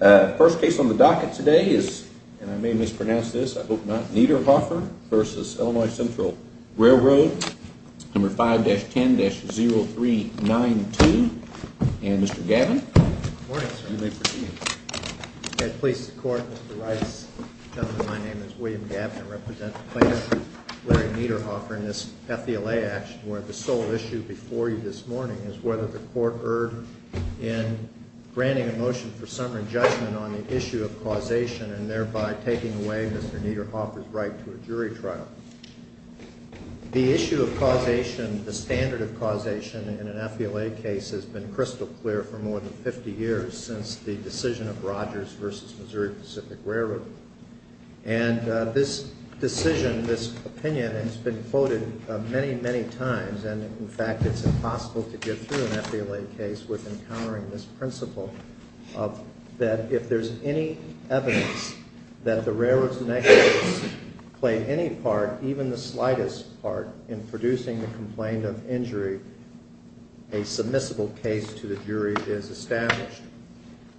First case on the docket today is, and I may mispronounce this, I hope not, Niederhofer v. Illinois Central Railroad, No. 5-10-0392, and Mr. Gavin. Good morning, sir. You may proceed. At police court, Mr. Rice, gentlemen, my name is William Gavin. I represent the plaintiff, Larry Niederhofer, in this FVLA action where the sole issue before you this morning is whether the court erred in granting a motion for summary judgment on the issue of causation and thereby taking away Mr. Niederhofer's right to a jury trial. The issue of causation, the standard of causation in an FVLA case has been crystal clear for more than 50 years since the decision of Rogers v. Missouri Pacific Railroad. And this decision, this opinion has been quoted many, many times, and in fact, it's impossible to get through an FVLA case with encountering this principle that if there's any evidence that the railroad's negligence played any part, even the slightest part, in producing the complaint of injury, a submissible case to the jury is established.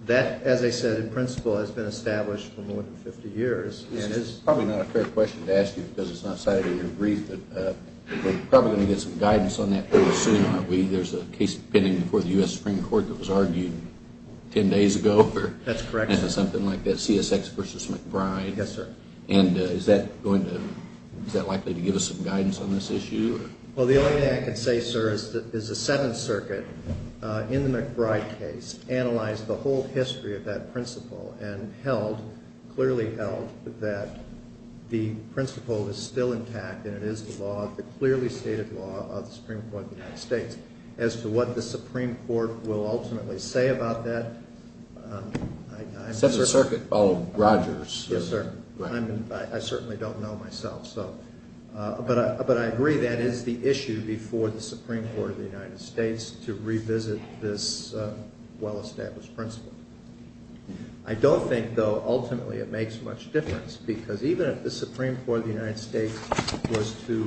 That, as I said, in principle, has been established for more than 50 years. This is probably not a fair question to ask you because it's not cited in your brief, but we're probably going to get some guidance on that pretty soon, aren't we? There's a case pending before the U.S. Supreme Court that was argued 10 days ago. That's correct, sir. Something like that, CSX v. McBride. Yes, sir. And is that likely to give us some guidance on this issue? Well, the only thing I can say, sir, is the Seventh Circuit in the McBride case analyzed the whole history of that principle and held, clearly held, that the principle is still intact and it is the law, the clearly stated law of the Supreme Court of the United States. As to what the Supreme Court will ultimately say about that, I'm not sure. That's a circuit called Rogers. Yes, sir. I certainly don't know myself. But I agree that is the issue before the Supreme Court of the United States to revisit this well-established principle. I don't think, though, ultimately it makes much difference because even if the Supreme Court of the United States was to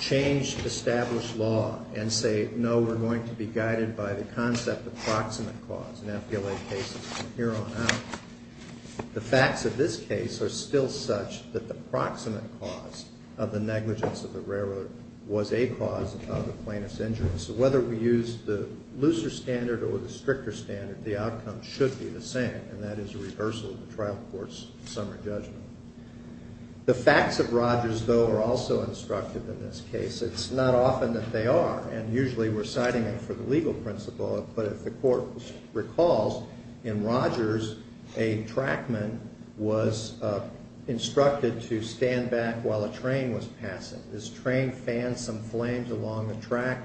change established law and say, no, we're going to be guided by the concept of proximate cause in FBLA cases from here on out, the facts of this case are still such that the proximate cause of the negligence of the railroad was a cause of the plaintiff's injury. So whether we use the looser standard or the stricter standard, the outcome should be the same, and that is a reversal of the trial court's summary judgment. The facts of Rogers, though, are also instructive in this case. It's not often that they are, and usually we're citing them for the legal principle. But if the court recalls, in Rogers, a trackman was instructed to stand back while a train was passing. This train fanned some flames along the track.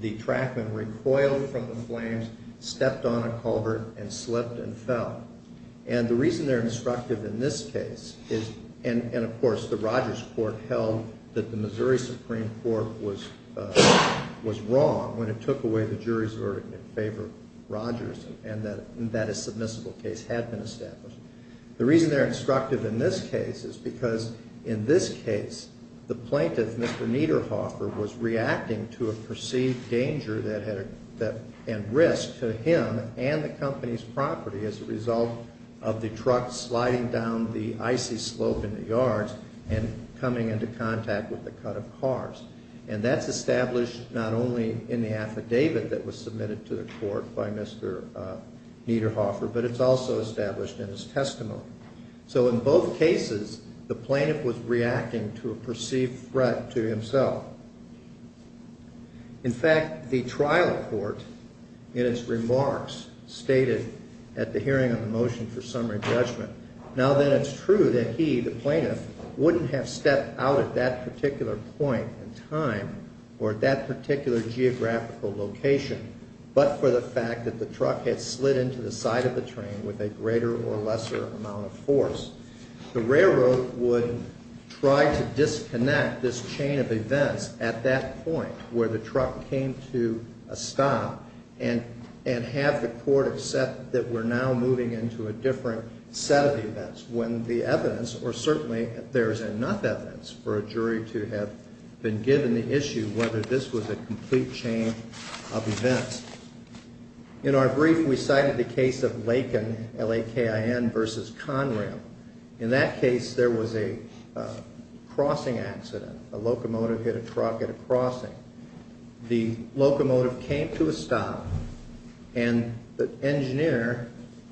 The trackman recoiled from the flames, stepped on a culvert, and slipped and fell. And the reason they're instructive in this case is, and of course the Rogers court held that the Missouri Supreme Court was wrong when it took away the jury's verdict in favor of Rogers and that a submissible case had been established. The reason they're instructive in this case is because in this case, the plaintiff, Mr. Niederhofer, was reacting to a perceived danger and risk to him and the company's property as a result of the truck sliding down the icy slope in the yards and coming into contact with the cut of cars. And that's established not only in the affidavit that was submitted to the court by Mr. Niederhofer, but it's also established in his testimony. So in both cases, the plaintiff was reacting to a perceived threat to himself. In fact, the trial court in its remarks stated at the hearing of the motion for summary judgment, now that it's true that he, the plaintiff, wouldn't have stepped out at that particular point in time or at that particular geographical location, but for the fact that the truck had slid into the side of the train with a greater or lesser amount of force. The railroad would try to disconnect this chain of events at that point where the truck came to a stop and have the court accept that we're now moving into a different set of events when the evidence, or certainly there's enough evidence for a jury to have been given the issue whether this was a complete chain of events. In our brief, we cited the case of Laken, L-A-K-I-N, versus Conrail. In that case, there was a crossing accident. A locomotive hit a truck at a crossing. The locomotive came to a stop, and the engineer,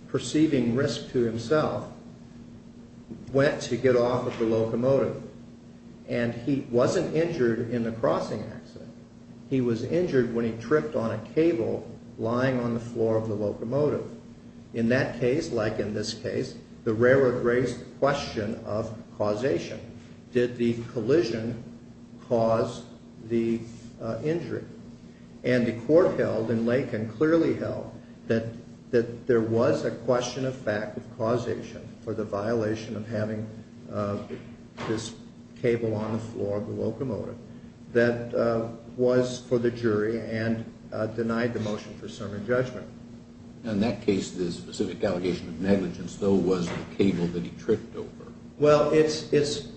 perceiving risk to himself, went to get off of the locomotive. And he wasn't injured in the crossing accident. He was injured when he tripped on a cable lying on the floor of the locomotive. In that case, like in this case, the railroad raised the question of causation. Did the collision cause the injury? And the court held, and Laken clearly held, that there was a question of fact of causation for the violation of having this cable on the floor of the locomotive that was for the jury and denied the motion for serving judgment. In that case, the specific allegation of negligence, though, was the cable that he tripped over. Well, first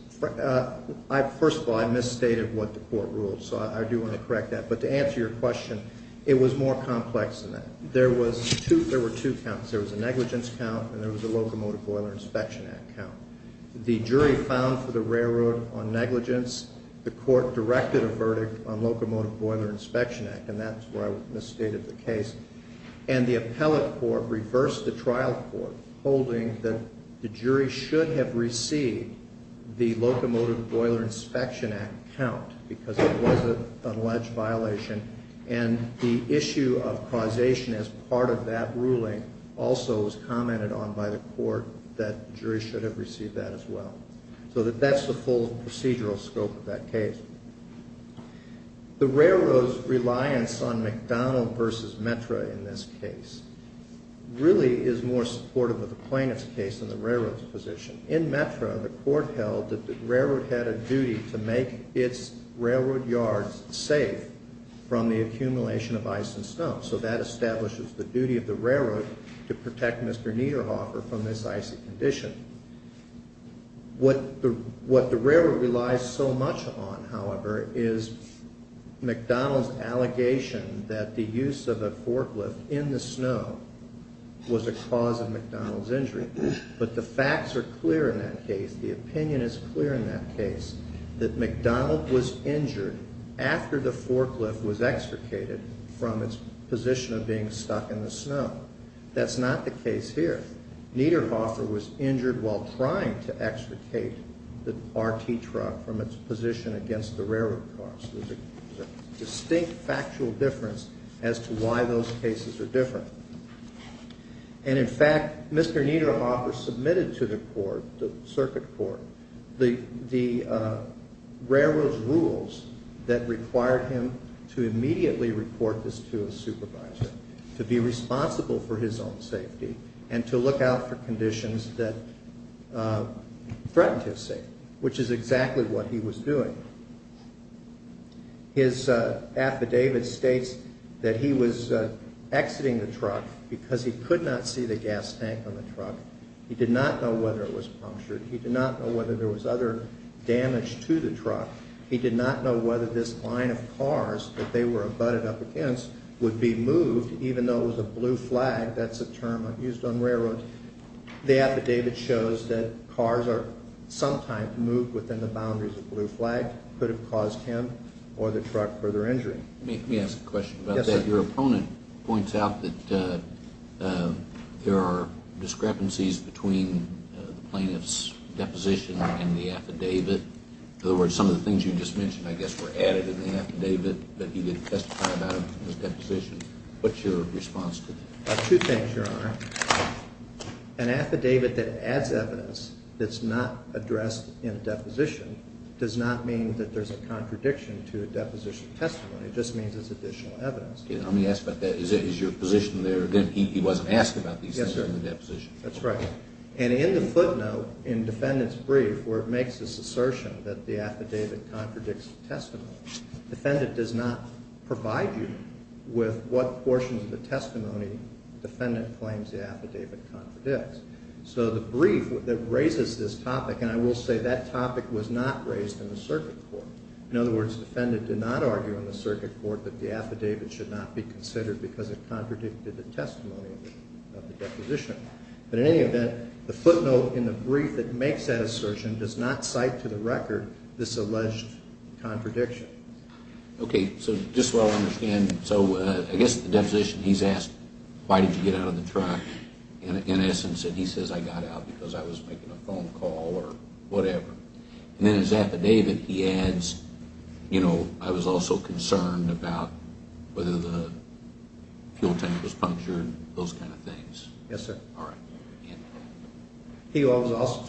of all, I misstated what the court ruled, so I do want to correct that. But to answer your question, it was more complex than that. There were two counts. There was a negligence count, and there was a Locomotive Boiler Inspection Act count. The jury filed for the railroad on negligence. The court directed a verdict on Locomotive Boiler Inspection Act, and that's where I misstated the case. And the appellate court reversed the trial court, holding that the jury should have received the Locomotive Boiler Inspection Act count because it was an alleged violation. And the issue of causation as part of that ruling also was commented on by the court that the jury should have received that as well. So that's the full procedural scope of that case. The railroad's reliance on McDonald v. Metra in this case really is more supportive of the plaintiff's case than the railroad's position. In Metra, the court held that the railroad had a duty to make its railroad yards safe from the accumulation of ice and snow. So that establishes the duty of the railroad to protect Mr. Niederhofer from this icy condition. What the railroad relies so much on, however, is McDonald's allegation that the use of a forklift in the snow was a cause of McDonald's injury. But the facts are clear in that case. The opinion is clear in that case, that McDonald was injured after the forklift was extricated from its position of being stuck in the snow. That's not the case here. Niederhofer was injured while trying to extricate the RT truck from its position against the railroad cars. There's a distinct factual difference as to why those cases are different. And in fact, Mr. Niederhofer submitted to the court, the circuit court, the railroad's rules that required him to immediately report this to a supervisor, to be responsible for his own safety, and to look out for conditions that threatened his safety, which is exactly what he was doing. His affidavit states that he was exiting the truck because he could not see the gas tank on the truck. He did not know whether it was punctured. He did not know whether there was other damage to the truck. He did not know whether this line of cars that they were abutted up against would be moved, even though it was a blue flag. That's a term used on railroads. The affidavit shows that cars are sometimes moved within the boundaries of blue flags. It could have caused him or the truck further injury. Let me ask a question about that. Your opponent points out that there are discrepancies between the plaintiff's deposition and the affidavit. In other words, some of the things you just mentioned, I guess, were added in the affidavit that he didn't testify about in his deposition. What's your response to that? Two things, Your Honor. An affidavit that adds evidence that's not addressed in a deposition does not mean that there's a contradiction to a deposition testimony. It just means there's additional evidence. Let me ask about that. Is your position there that he wasn't asked about these things in the deposition? That's right. In the footnote in the defendant's brief where it makes this assertion that the affidavit contradicts the testimony, the defendant does not provide you with what portions of the testimony the defendant claims the affidavit contradicts. The brief that raises this topic, and I will say that topic was not raised in the circuit court. In other words, the defendant did not argue in the circuit court that the affidavit should not be considered because it contradicted the testimony of the deposition. But in any event, the footnote in the brief that makes that assertion does not cite to the record this alleged contradiction. Okay. So just so I understand, so I guess the deposition he's asked, why did you get out of the truck? In essence, he says, I got out because I was making a phone call or whatever. And in his affidavit, he adds, you know, I was also concerned about whether the fuel tank was punctured, those kind of things. Yes, sir. All right.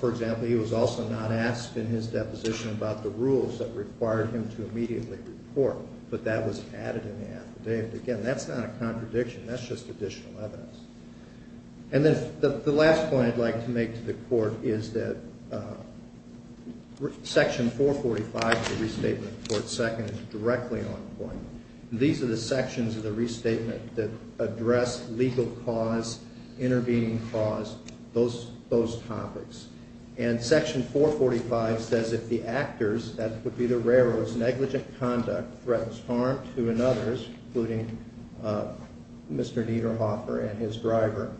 For example, he was also not asked in his deposition about the rules that required him to immediately report. But that was added in the affidavit. Again, that's not a contradiction. That's just additional evidence. And then the last point I'd like to make to the Court is that Section 445 of the Restatement of the Court Second is directly on point. These are the sections of the Restatement that address legal cause, intervening cause, those topics. And Section 445 says if the actors, that would be the railroads, negligent conduct, threatens harm to another's, including Mr. Dieterhofer and his driver,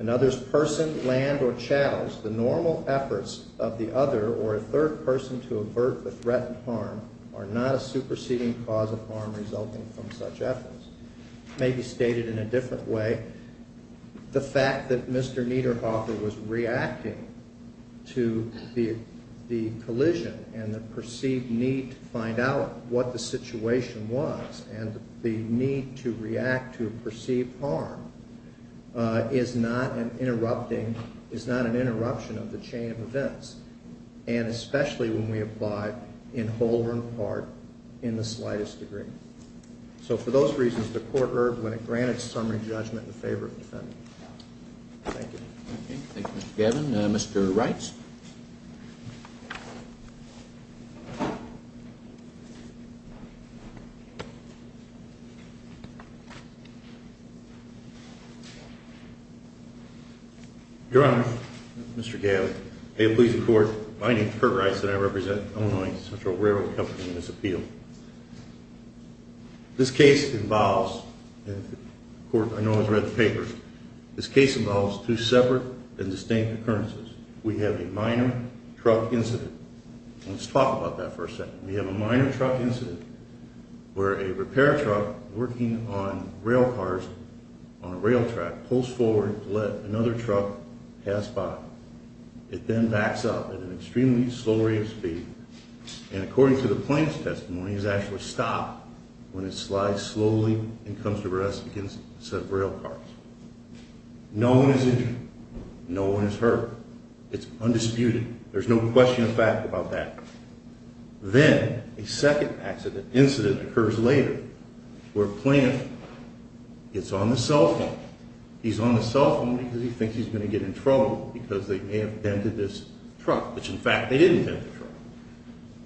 another's person, land, or channels, the normal efforts of the other or a third person to avert the threat of harm are not a superseding cause of harm resulting from such efforts. Maybe stated in a different way, the fact that Mr. Dieterhofer was reacting to the collision and the perceived need to find out what the situation was and the need to react to perceived harm is not an interruption of the chain of events, and especially when we apply in whole or in part in the slightest degree. So for those reasons, the Court erred when it granted summary judgment in favor of the defendant. Thank you. Thank you, Mr. Gavin. Mr. Reitz. Your Honor, Mr. Gavin, may it please the Court, my name is Curt Reitz and I represent Illinois Central Railroad Company in this appeal. This case involves, and the Court, I know, has read the paper. This case involves two separate and distinct occurrences. We have a minor truck incident. Let's talk about that for a second. We have a minor truck incident where a repair truck working on rail cars on a rail track pulls forward to let another truck pass by. It then backs up at an extremely slow rate of speed and, according to the plaintiff's testimony, is actually stopped when it slides slowly and comes to rest against a set of rail cars. No one is injured. No one is hurt. It's undisputed. There's no question of fact about that. Then a second incident occurs later where a plaintiff gets on the cell phone. He's on the cell phone because he thinks he's going to get in trouble because they may have vented this truck, which, in fact, they didn't vent the truck.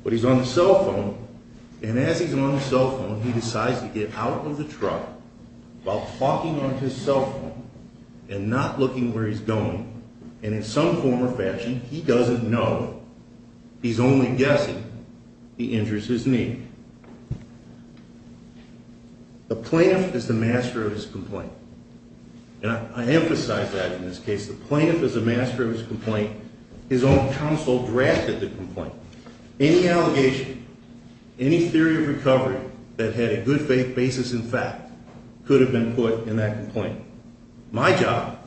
But he's on the cell phone, and as he's on the cell phone, he decides to get out of the truck while talking on his cell phone and not looking where he's going. And in some form or fashion, he doesn't know. He's only guessing. He injures his knee. The plaintiff is the master of his complaint. And I emphasize that in this case. The plaintiff is the master of his complaint. His own counsel drafted the complaint. Any allegation, any theory of recovery that had a good faith basis in fact could have been put in that complaint. My job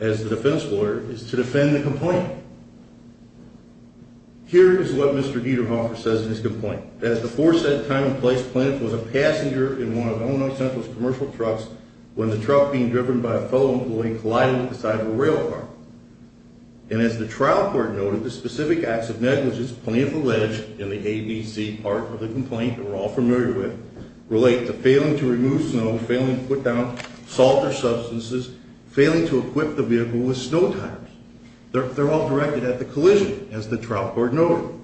as the defense lawyer is to defend the complaint. Here is what Mr. Dieterhofer says in his complaint. As the force said, time and place, the plaintiff was a passenger in one of Illinois Central's commercial trucks when the truck being driven by a fellow employee collided with the side of a rail car. And as the trial court noted, the specific acts of negligence plaintiff alleged in the ABC part of the complaint that we're all familiar with relate to failing to remove snow, failing to put down salt or substances, failing to equip the vehicle with snow tires. They're all directed at the collision, as the trial court noted.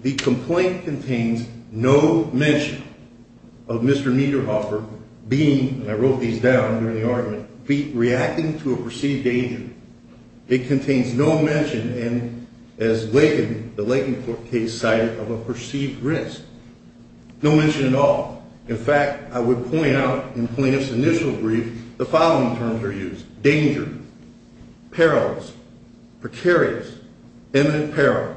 The complaint contains no mention of Mr. Dieterhofer being, and I wrote these down during the argument, reacting to a perceived danger. It contains no mention, and as Lakin, the Lakin case cited, of a perceived risk. No mention at all. In fact, I would point out in plaintiff's initial brief, the following terms are used. Danger, perils, precarious, imminent peril.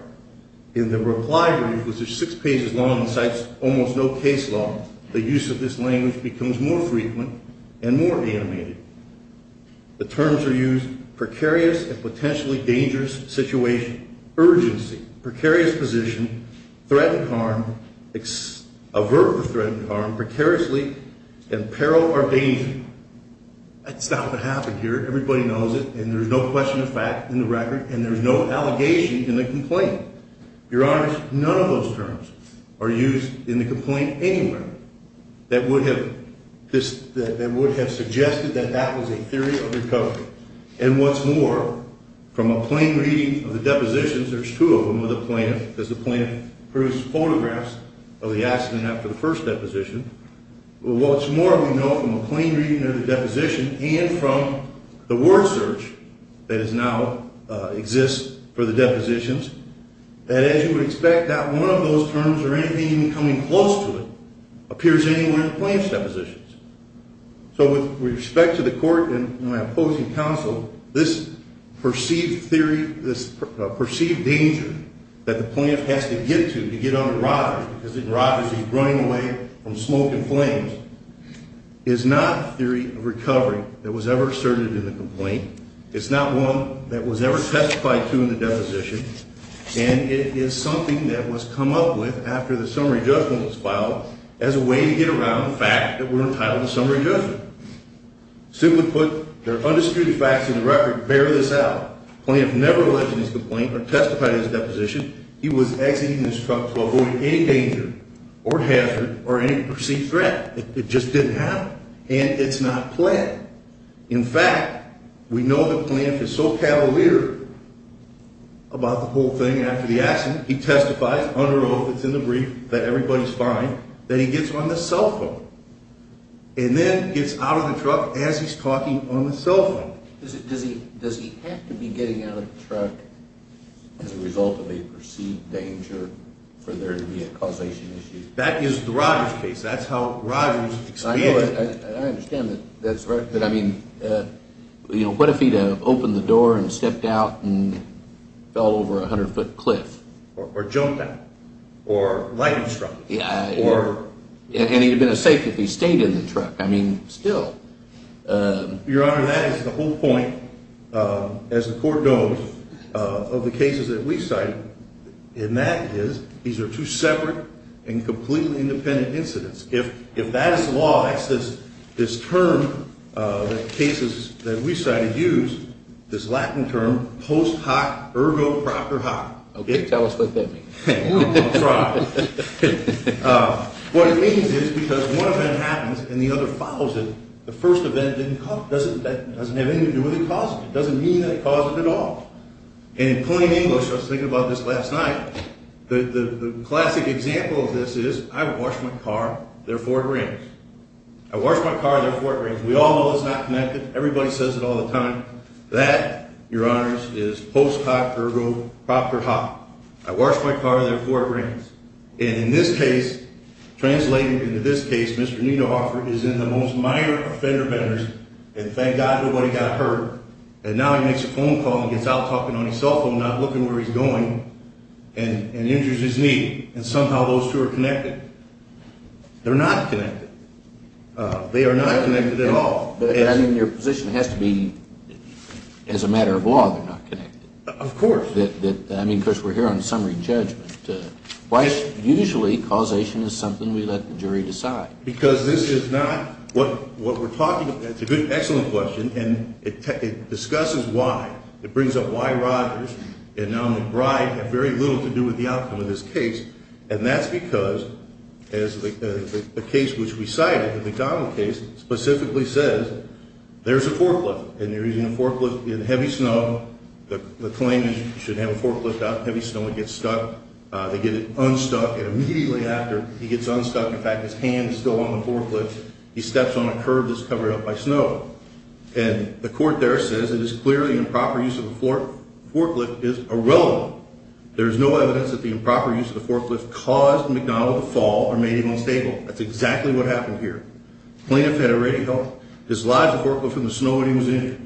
In the reply brief, which is six pages long and cites almost no case law, the use of this language becomes more frequent and more animated. The terms are used, precarious and potentially dangerous situation. Urgency, precarious position, threatened harm, avert the threatened harm, precariously, and peril or danger. That's not what happened here. Everybody knows it, and there's no question of fact in the record, and there's no allegation in the complaint. Your Honor, none of those terms are used in the complaint anywhere that would have suggested that that was a theory of recovery. And what's more, from a plain reading of the depositions, there's two of them with the plaintiff, because the plaintiff produced photographs of the accident after the first deposition. What's more, we know from a plain reading of the deposition and from the word search that now exists for the depositions, that as you would expect, not one of those terms or anything even coming close to it appears anywhere in the plaintiff's depositions. So with respect to the court and my opposing counsel, this perceived theory, this perceived danger that the plaintiff has to get to to get on the rod, because the rod is running away from smoke and flames, is not a theory of recovery that was ever asserted in the complaint. It's not one that was ever testified to in the deposition, and it is something that was come up with after the summary judgment was filed as a way to get around the fact that we're entitled to summary judgment. Simply put, there are undisputed facts in the record to bear this out. The plaintiff never alleged in his complaint or testified in his deposition he was exiting his truck to avoid any danger or hazard or any perceived threat. It just didn't happen, and it's not planned. In fact, we know the plaintiff is so cavalier about the whole thing after the accident, he testifies under oath, it's in the brief, that everybody's fine, that he gets on the cell phone and then gets out of the truck as he's talking on the cell phone. Does he have to be getting out of the truck as a result of a perceived danger for there to be a causation issue? That is the Rogers case. That's how Rogers explained it. I understand that that's right, but I mean, you know, what if he had opened the door and stepped out and fell over a 100-foot cliff? Or jumped out. Or lightning struck. And he'd have been safe if he'd stayed in the truck. I mean, still. Your Honor, that is the whole point, as the Court knows, of the cases that we've cited, and that is these are two separate and completely independent incidents. If that is the law, that's this term, the cases that we cited use, this Latin term, post hoc ergo proper hoc. Okay, tell us what that means. I'll try. What it means is because one event happens and the other follows it, the first event doesn't have anything to do with the cause. It doesn't mean that it caused it at all. And in plain English, I was thinking about this last night, the classic example of this is I wash my car, therefore it rains. I wash my car, therefore it rains. We all know it's not connected. Everybody says it all the time. That, Your Honors, is post hoc ergo proper hoc. I wash my car, therefore it rains. And in this case, translated into this case, Mr. Niedhoffer is in the most minor offenders and thank God nobody got hurt. And now he makes a phone call and gets out talking on his cell phone, not looking where he's going. And injures his knee. And somehow those two are connected. They're not connected. They are not connected at all. But, I mean, your position has to be as a matter of law they're not connected. Of course. I mean, of course, we're here on summary judgment. Usually causation is something we let the jury decide. Because this is not what we're talking about. That's a good, excellent question. And it discusses why. It brings up why Rogers and now McBride have very little to do with the outcome of this case. And that's because the case which we cited, the McDonald case, specifically says there's a forklift. And you're using a forklift in heavy snow. The claim is you should have a forklift out in heavy snow. It gets stuck. They get it unstuck. And immediately after he gets unstuck, in fact, his hand is still on the forklift, he steps on a curb that's covered up by snow. And the court there says it is clearly improper use of the forklift is irrelevant. There is no evidence that the improper use of the forklift caused McDonald to fall or made him unstable. That's exactly what happened here. Plaintiff had a radio, dislodged the forklift from the snow when he was injured.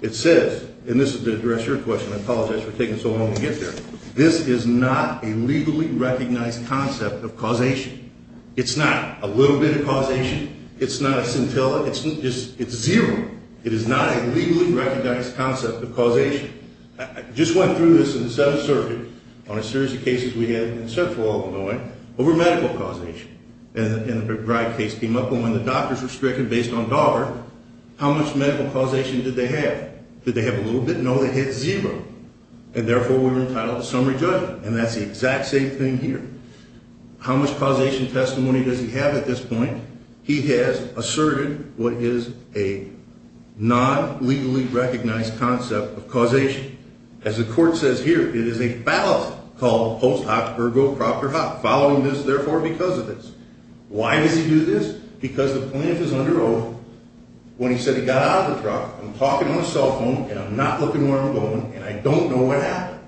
It says, and this is to address your question, I apologize for taking so long to get there, this is not a legally recognized concept of causation. It's not a little bit of causation. It's not a scintilla. It's zero. It is not a legally recognized concept of causation. I just went through this in the Seventh Circuit on a series of cases we had in Central Illinois over medical causation. And a bribe case came up. And when the doctors were stricken based on dollar, how much medical causation did they have? Did they have a little bit? No, they had zero. And therefore, we're entitled to summary judgment. And that's the exact same thing here. How much causation testimony does he have at this point? He has asserted what is a non-legally recognized concept of causation. As the court says here, it is a fallacy called post hoc or go prop or hoc, following this therefore because of this. Why does he do this? Because the plaintiff is under oath when he said he got out of the truck, I'm talking on a cell phone, and I'm not looking where I'm going, and I don't know what happened.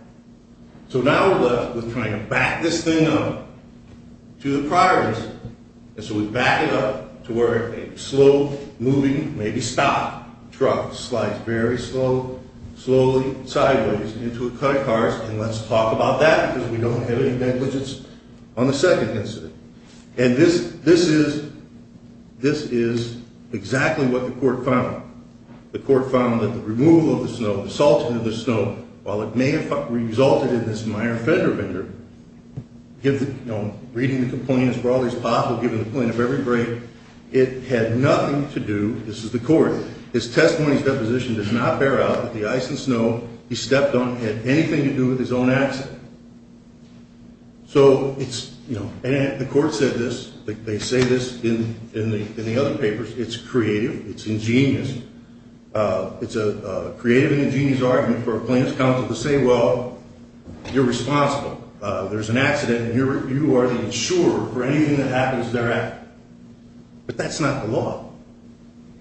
So now we're left with trying to back this thing up to the priors. And so we back it up to where it may be slow moving, may be stopped. Truck slides very slow, slowly, sideways into a cut of cars. And let's talk about that because we don't have any negligence on the second incident. And this is exactly what the court found. The court found that the removal of the snow, the salting of the snow, while it may have resulted in this minor fender bender, reading the complaint as broadly as possible, giving the plaintiff every break, it had nothing to do, this is the court, his testimony's deposition does not bear out that the ice and snow he stepped on had anything to do with his own accident. So the court said this, they say this in the other papers, it's creative, it's ingenious. It's a creative and ingenious argument for a plaintiff's counsel to say, well, you're responsible. There's an accident and you are the insurer for anything that happens thereafter. But that's not the law.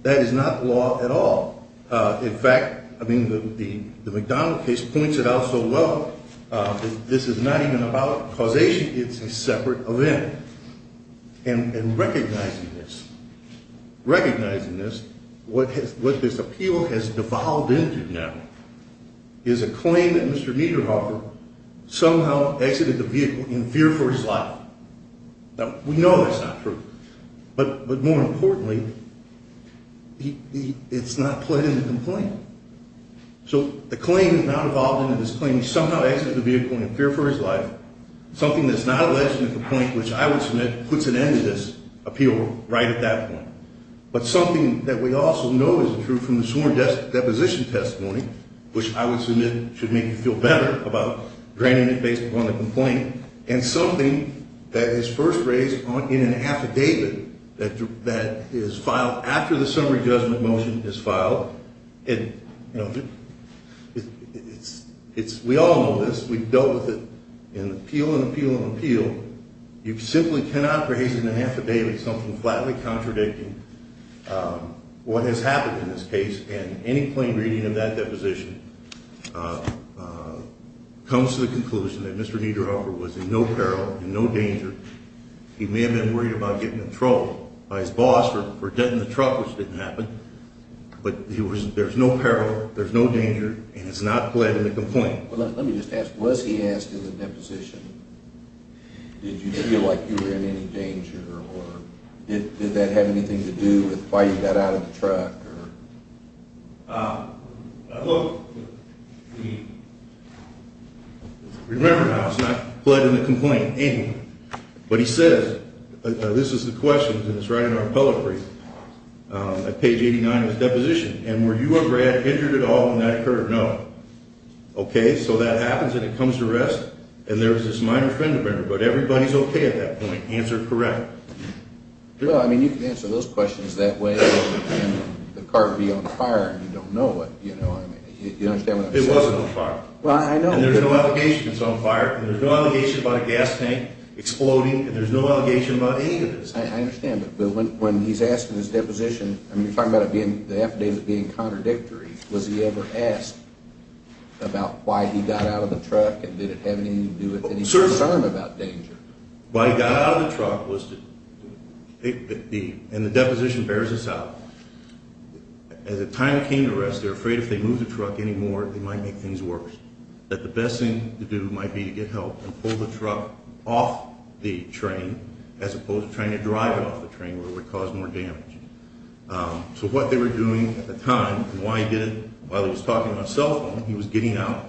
That is not the law at all. In fact, I mean, the McDonald case points it out so well. This is not even about causation. It's a separate event. And recognizing this, recognizing this, what this appeal has devolved into now is a claim that Mr. Mieterhofer somehow exited the vehicle in fear for his life. Now, we know that's not true. But more importantly, it's not pled in the complaint. So the claim has now devolved into this claim he somehow exited the vehicle in fear for his life, something that's not alleged in the complaint, which I would submit puts an end to this appeal right at that point. But something that we also know isn't true from the sworn deposition testimony, which I would submit should make you feel better about draining it based upon the complaint, and something that is first raised in an affidavit that is filed after the summary judgment motion is filed. We all know this. We've dealt with it in appeal and appeal and appeal. You simply cannot raise in an affidavit something flatly contradicting what has happened in this case. And any plain reading of that deposition comes to the conclusion that Mr. Mieterhofer was in no peril, in no danger. He may have been worried about getting in trouble by his boss for denting the truck, which didn't happen. But there's no peril, there's no danger, and it's not pled in the complaint. Let me just ask, was he asked in the deposition, did you feel like you were in any danger, or did that have anything to do with why you got out of the truck? Look, remember now, it's not pled in the complaint anyway. But he says, this is the question, and it's right in our appellate brief, at page 89 of the deposition. And were you or Brad injured at all in that occurrence? No. Okay, so that happens and it comes to rest, and there is this minor trend of error, but everybody's okay at that point. Answer correct. Well, I mean, you can answer those questions that way, and the car would be on fire, and you don't know what, you know what I mean. You don't understand what I'm saying. It wasn't on fire. Well, I know. And there's no allegation it's on fire, and there's no allegation about a gas tank exploding, and there's no allegation about any of this. I understand, but when he's asked in his deposition, I mean, you're talking about the affidavit being contradictory. Was he ever asked about why he got out of the truck, and did it have anything to do with any concern about danger? Why he got out of the truck was to – and the deposition bears this out. At the time it came to rest, they were afraid if they moved the truck anymore, they might make things worse, that the best thing to do might be to get help and pull the truck off the train as opposed to trying to drive it off the train, where it would cause more damage. So what they were doing at the time, and why he did it, while he was talking on his cell phone, he was getting out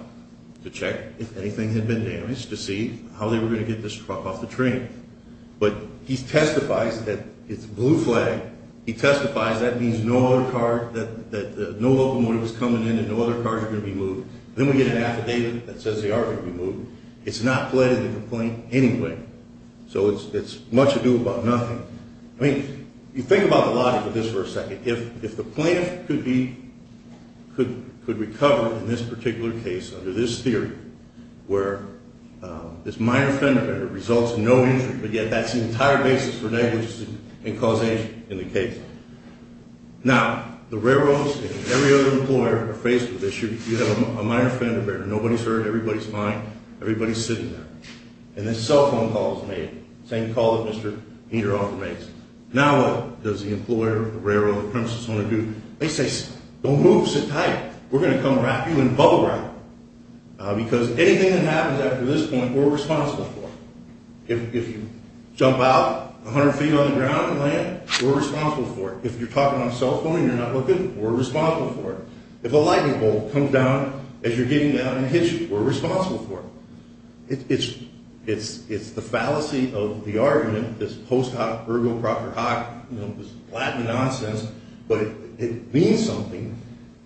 to check if anything had been damaged to see how they were going to get this truck off the train. But he testifies that it's a blue flag. He testifies that means no locomotive is coming in and no other cars are going to be moved. Then we get an affidavit that says they are going to be moved. It's not pledged in the complaint anyway, so it's much ado about nothing. I mean, you think about the logic of this for a second. If the plaintiff could recover in this particular case, under this theory, where this minor fender bender results in no injury, but yet that's the entire basis for negligence and causation in the case. Now, the railroads and every other employer are faced with this issue. You have a minor fender bender. Nobody's hurt, everybody's fine, everybody's sitting there. And this cell phone call is made, the same call that Mr. Heater often makes. Now what does the employer, the railroad, the premises want to do? They say, don't move, sit tight, we're going to come wrap you in bubble wrap, because anything that happens after this point, we're responsible for. If you jump out 100 feet on the ground and land, we're responsible for it. If you're talking on a cell phone and you're not looking, we're responsible for it. If a lightning bolt comes down as you're getting down in a hitch, we're responsible for it. It's the fallacy of the argument, this post hoc, ergo proctor hoc, this Latin nonsense, but it means something.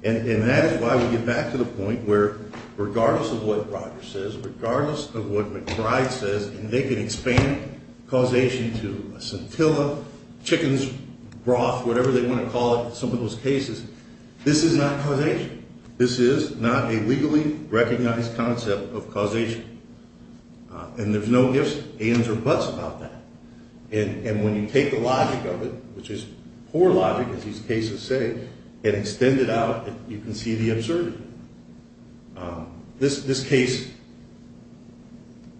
And that is why we get back to the point where regardless of what Roger says, regardless of what McBride says, and they can expand causation to a scintilla, chicken's broth, whatever they want to call it in some of those cases, this is not causation. This is not a legally recognized concept of causation. And there's no ifs, ands, or buts about that. And when you take the logic of it, which is poor logic, as these cases say, and extend it out, you can see the absurdity. This case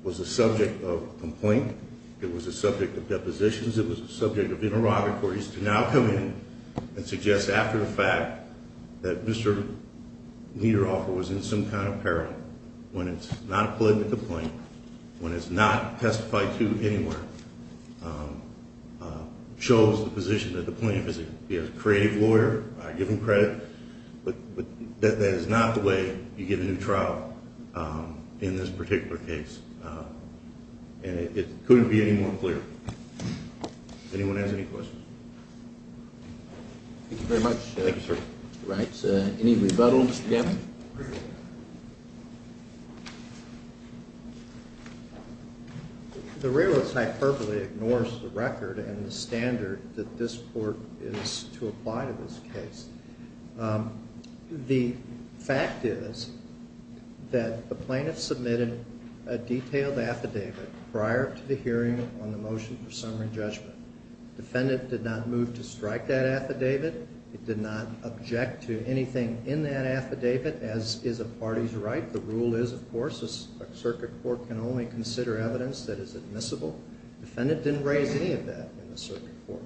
was a subject of complaint. It was a subject of depositions. It was a subject of interrogatories to now come in and suggest after the fact that Mr. Niederhofer was in some kind of peril, when it's not a political complaint, when it's not testified to anywhere, shows the position that the plaintiff is a creative lawyer, I give him credit, but that is not the way you give a new trial in this particular case. And it couldn't be any more clear. Does anyone have any questions? Thank you very much, Mr. Wright. Any rebuttals? The realist hyperbole ignores the record and the standard that this court is to apply to this case. The fact is that the plaintiff submitted a detailed affidavit prior to the hearing on the motion for summary judgment. Defendant did not move to strike that affidavit. It did not object to anything in that affidavit, as is a party's right. The rule is, of course, a circuit court can only consider evidence that is admissible. Defendant didn't raise any of that in the circuit court.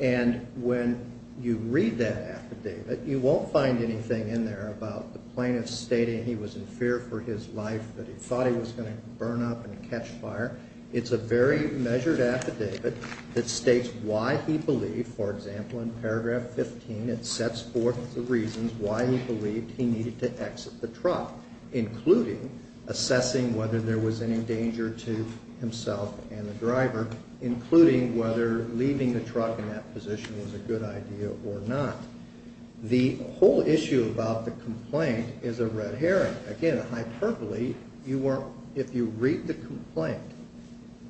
And when you read that affidavit, you won't find anything in there about the plaintiff stating he was in fear for his life, that he thought he was going to burn up and catch fire. It's a very measured affidavit that states why he believed, for example, in paragraph 15, it sets forth the reasons why he believed he needed to exit the truck, including assessing whether there was any danger to himself and the driver, including whether leaving the truck in that position was a good idea or not. The whole issue about the complaint is a red herring. Again, a hyperbole, if you read the complaint,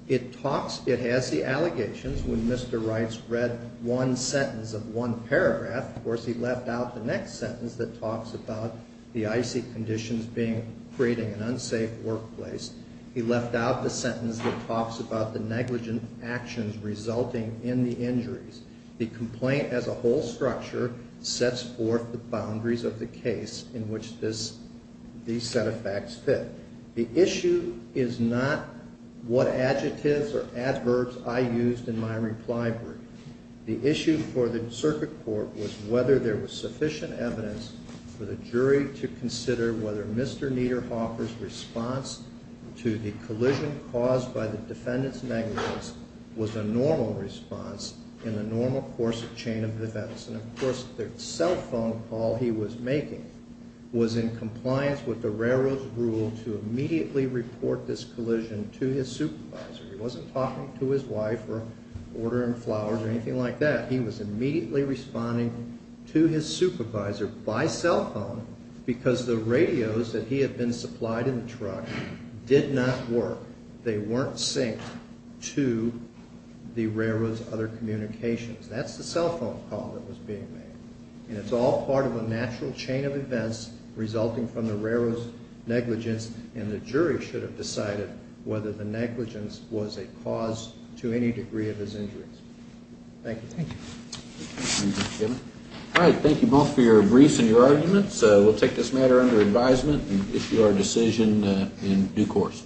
it has the allegations. When Mr. Reitz read one sentence of one paragraph, of course, he left out the next sentence that talks about the icy conditions creating an unsafe workplace. He left out the sentence that talks about the negligent actions resulting in the injuries. The complaint as a whole structure sets forth the boundaries of the case in which these set of facts fit. The issue is not what adjectives or adverbs I used in my reply brief. The issue for the circuit court was whether there was sufficient evidence for the jury to consider whether Mr. Niederhofer's response to the collision caused by the defendant's negligence was a normal response in the normal course of chain of events. Of course, the cell phone call he was making was in compliance with the railroad's rule to immediately report this collision to his supervisor. He wasn't talking to his wife or ordering flowers or anything like that. He was immediately responding to his supervisor by cell phone because the radios that he had been supplied in the truck did not work. They weren't synced to the railroad's other communications. That's the cell phone call that was being made, and it's all part of a natural chain of events resulting from the railroad's negligence, and the jury should have decided whether the negligence was a cause to any degree of his injuries. Thank you. Thank you. All right. Thank you both for your briefs and your arguments. We'll take this matter under advisement and issue our decision in due course.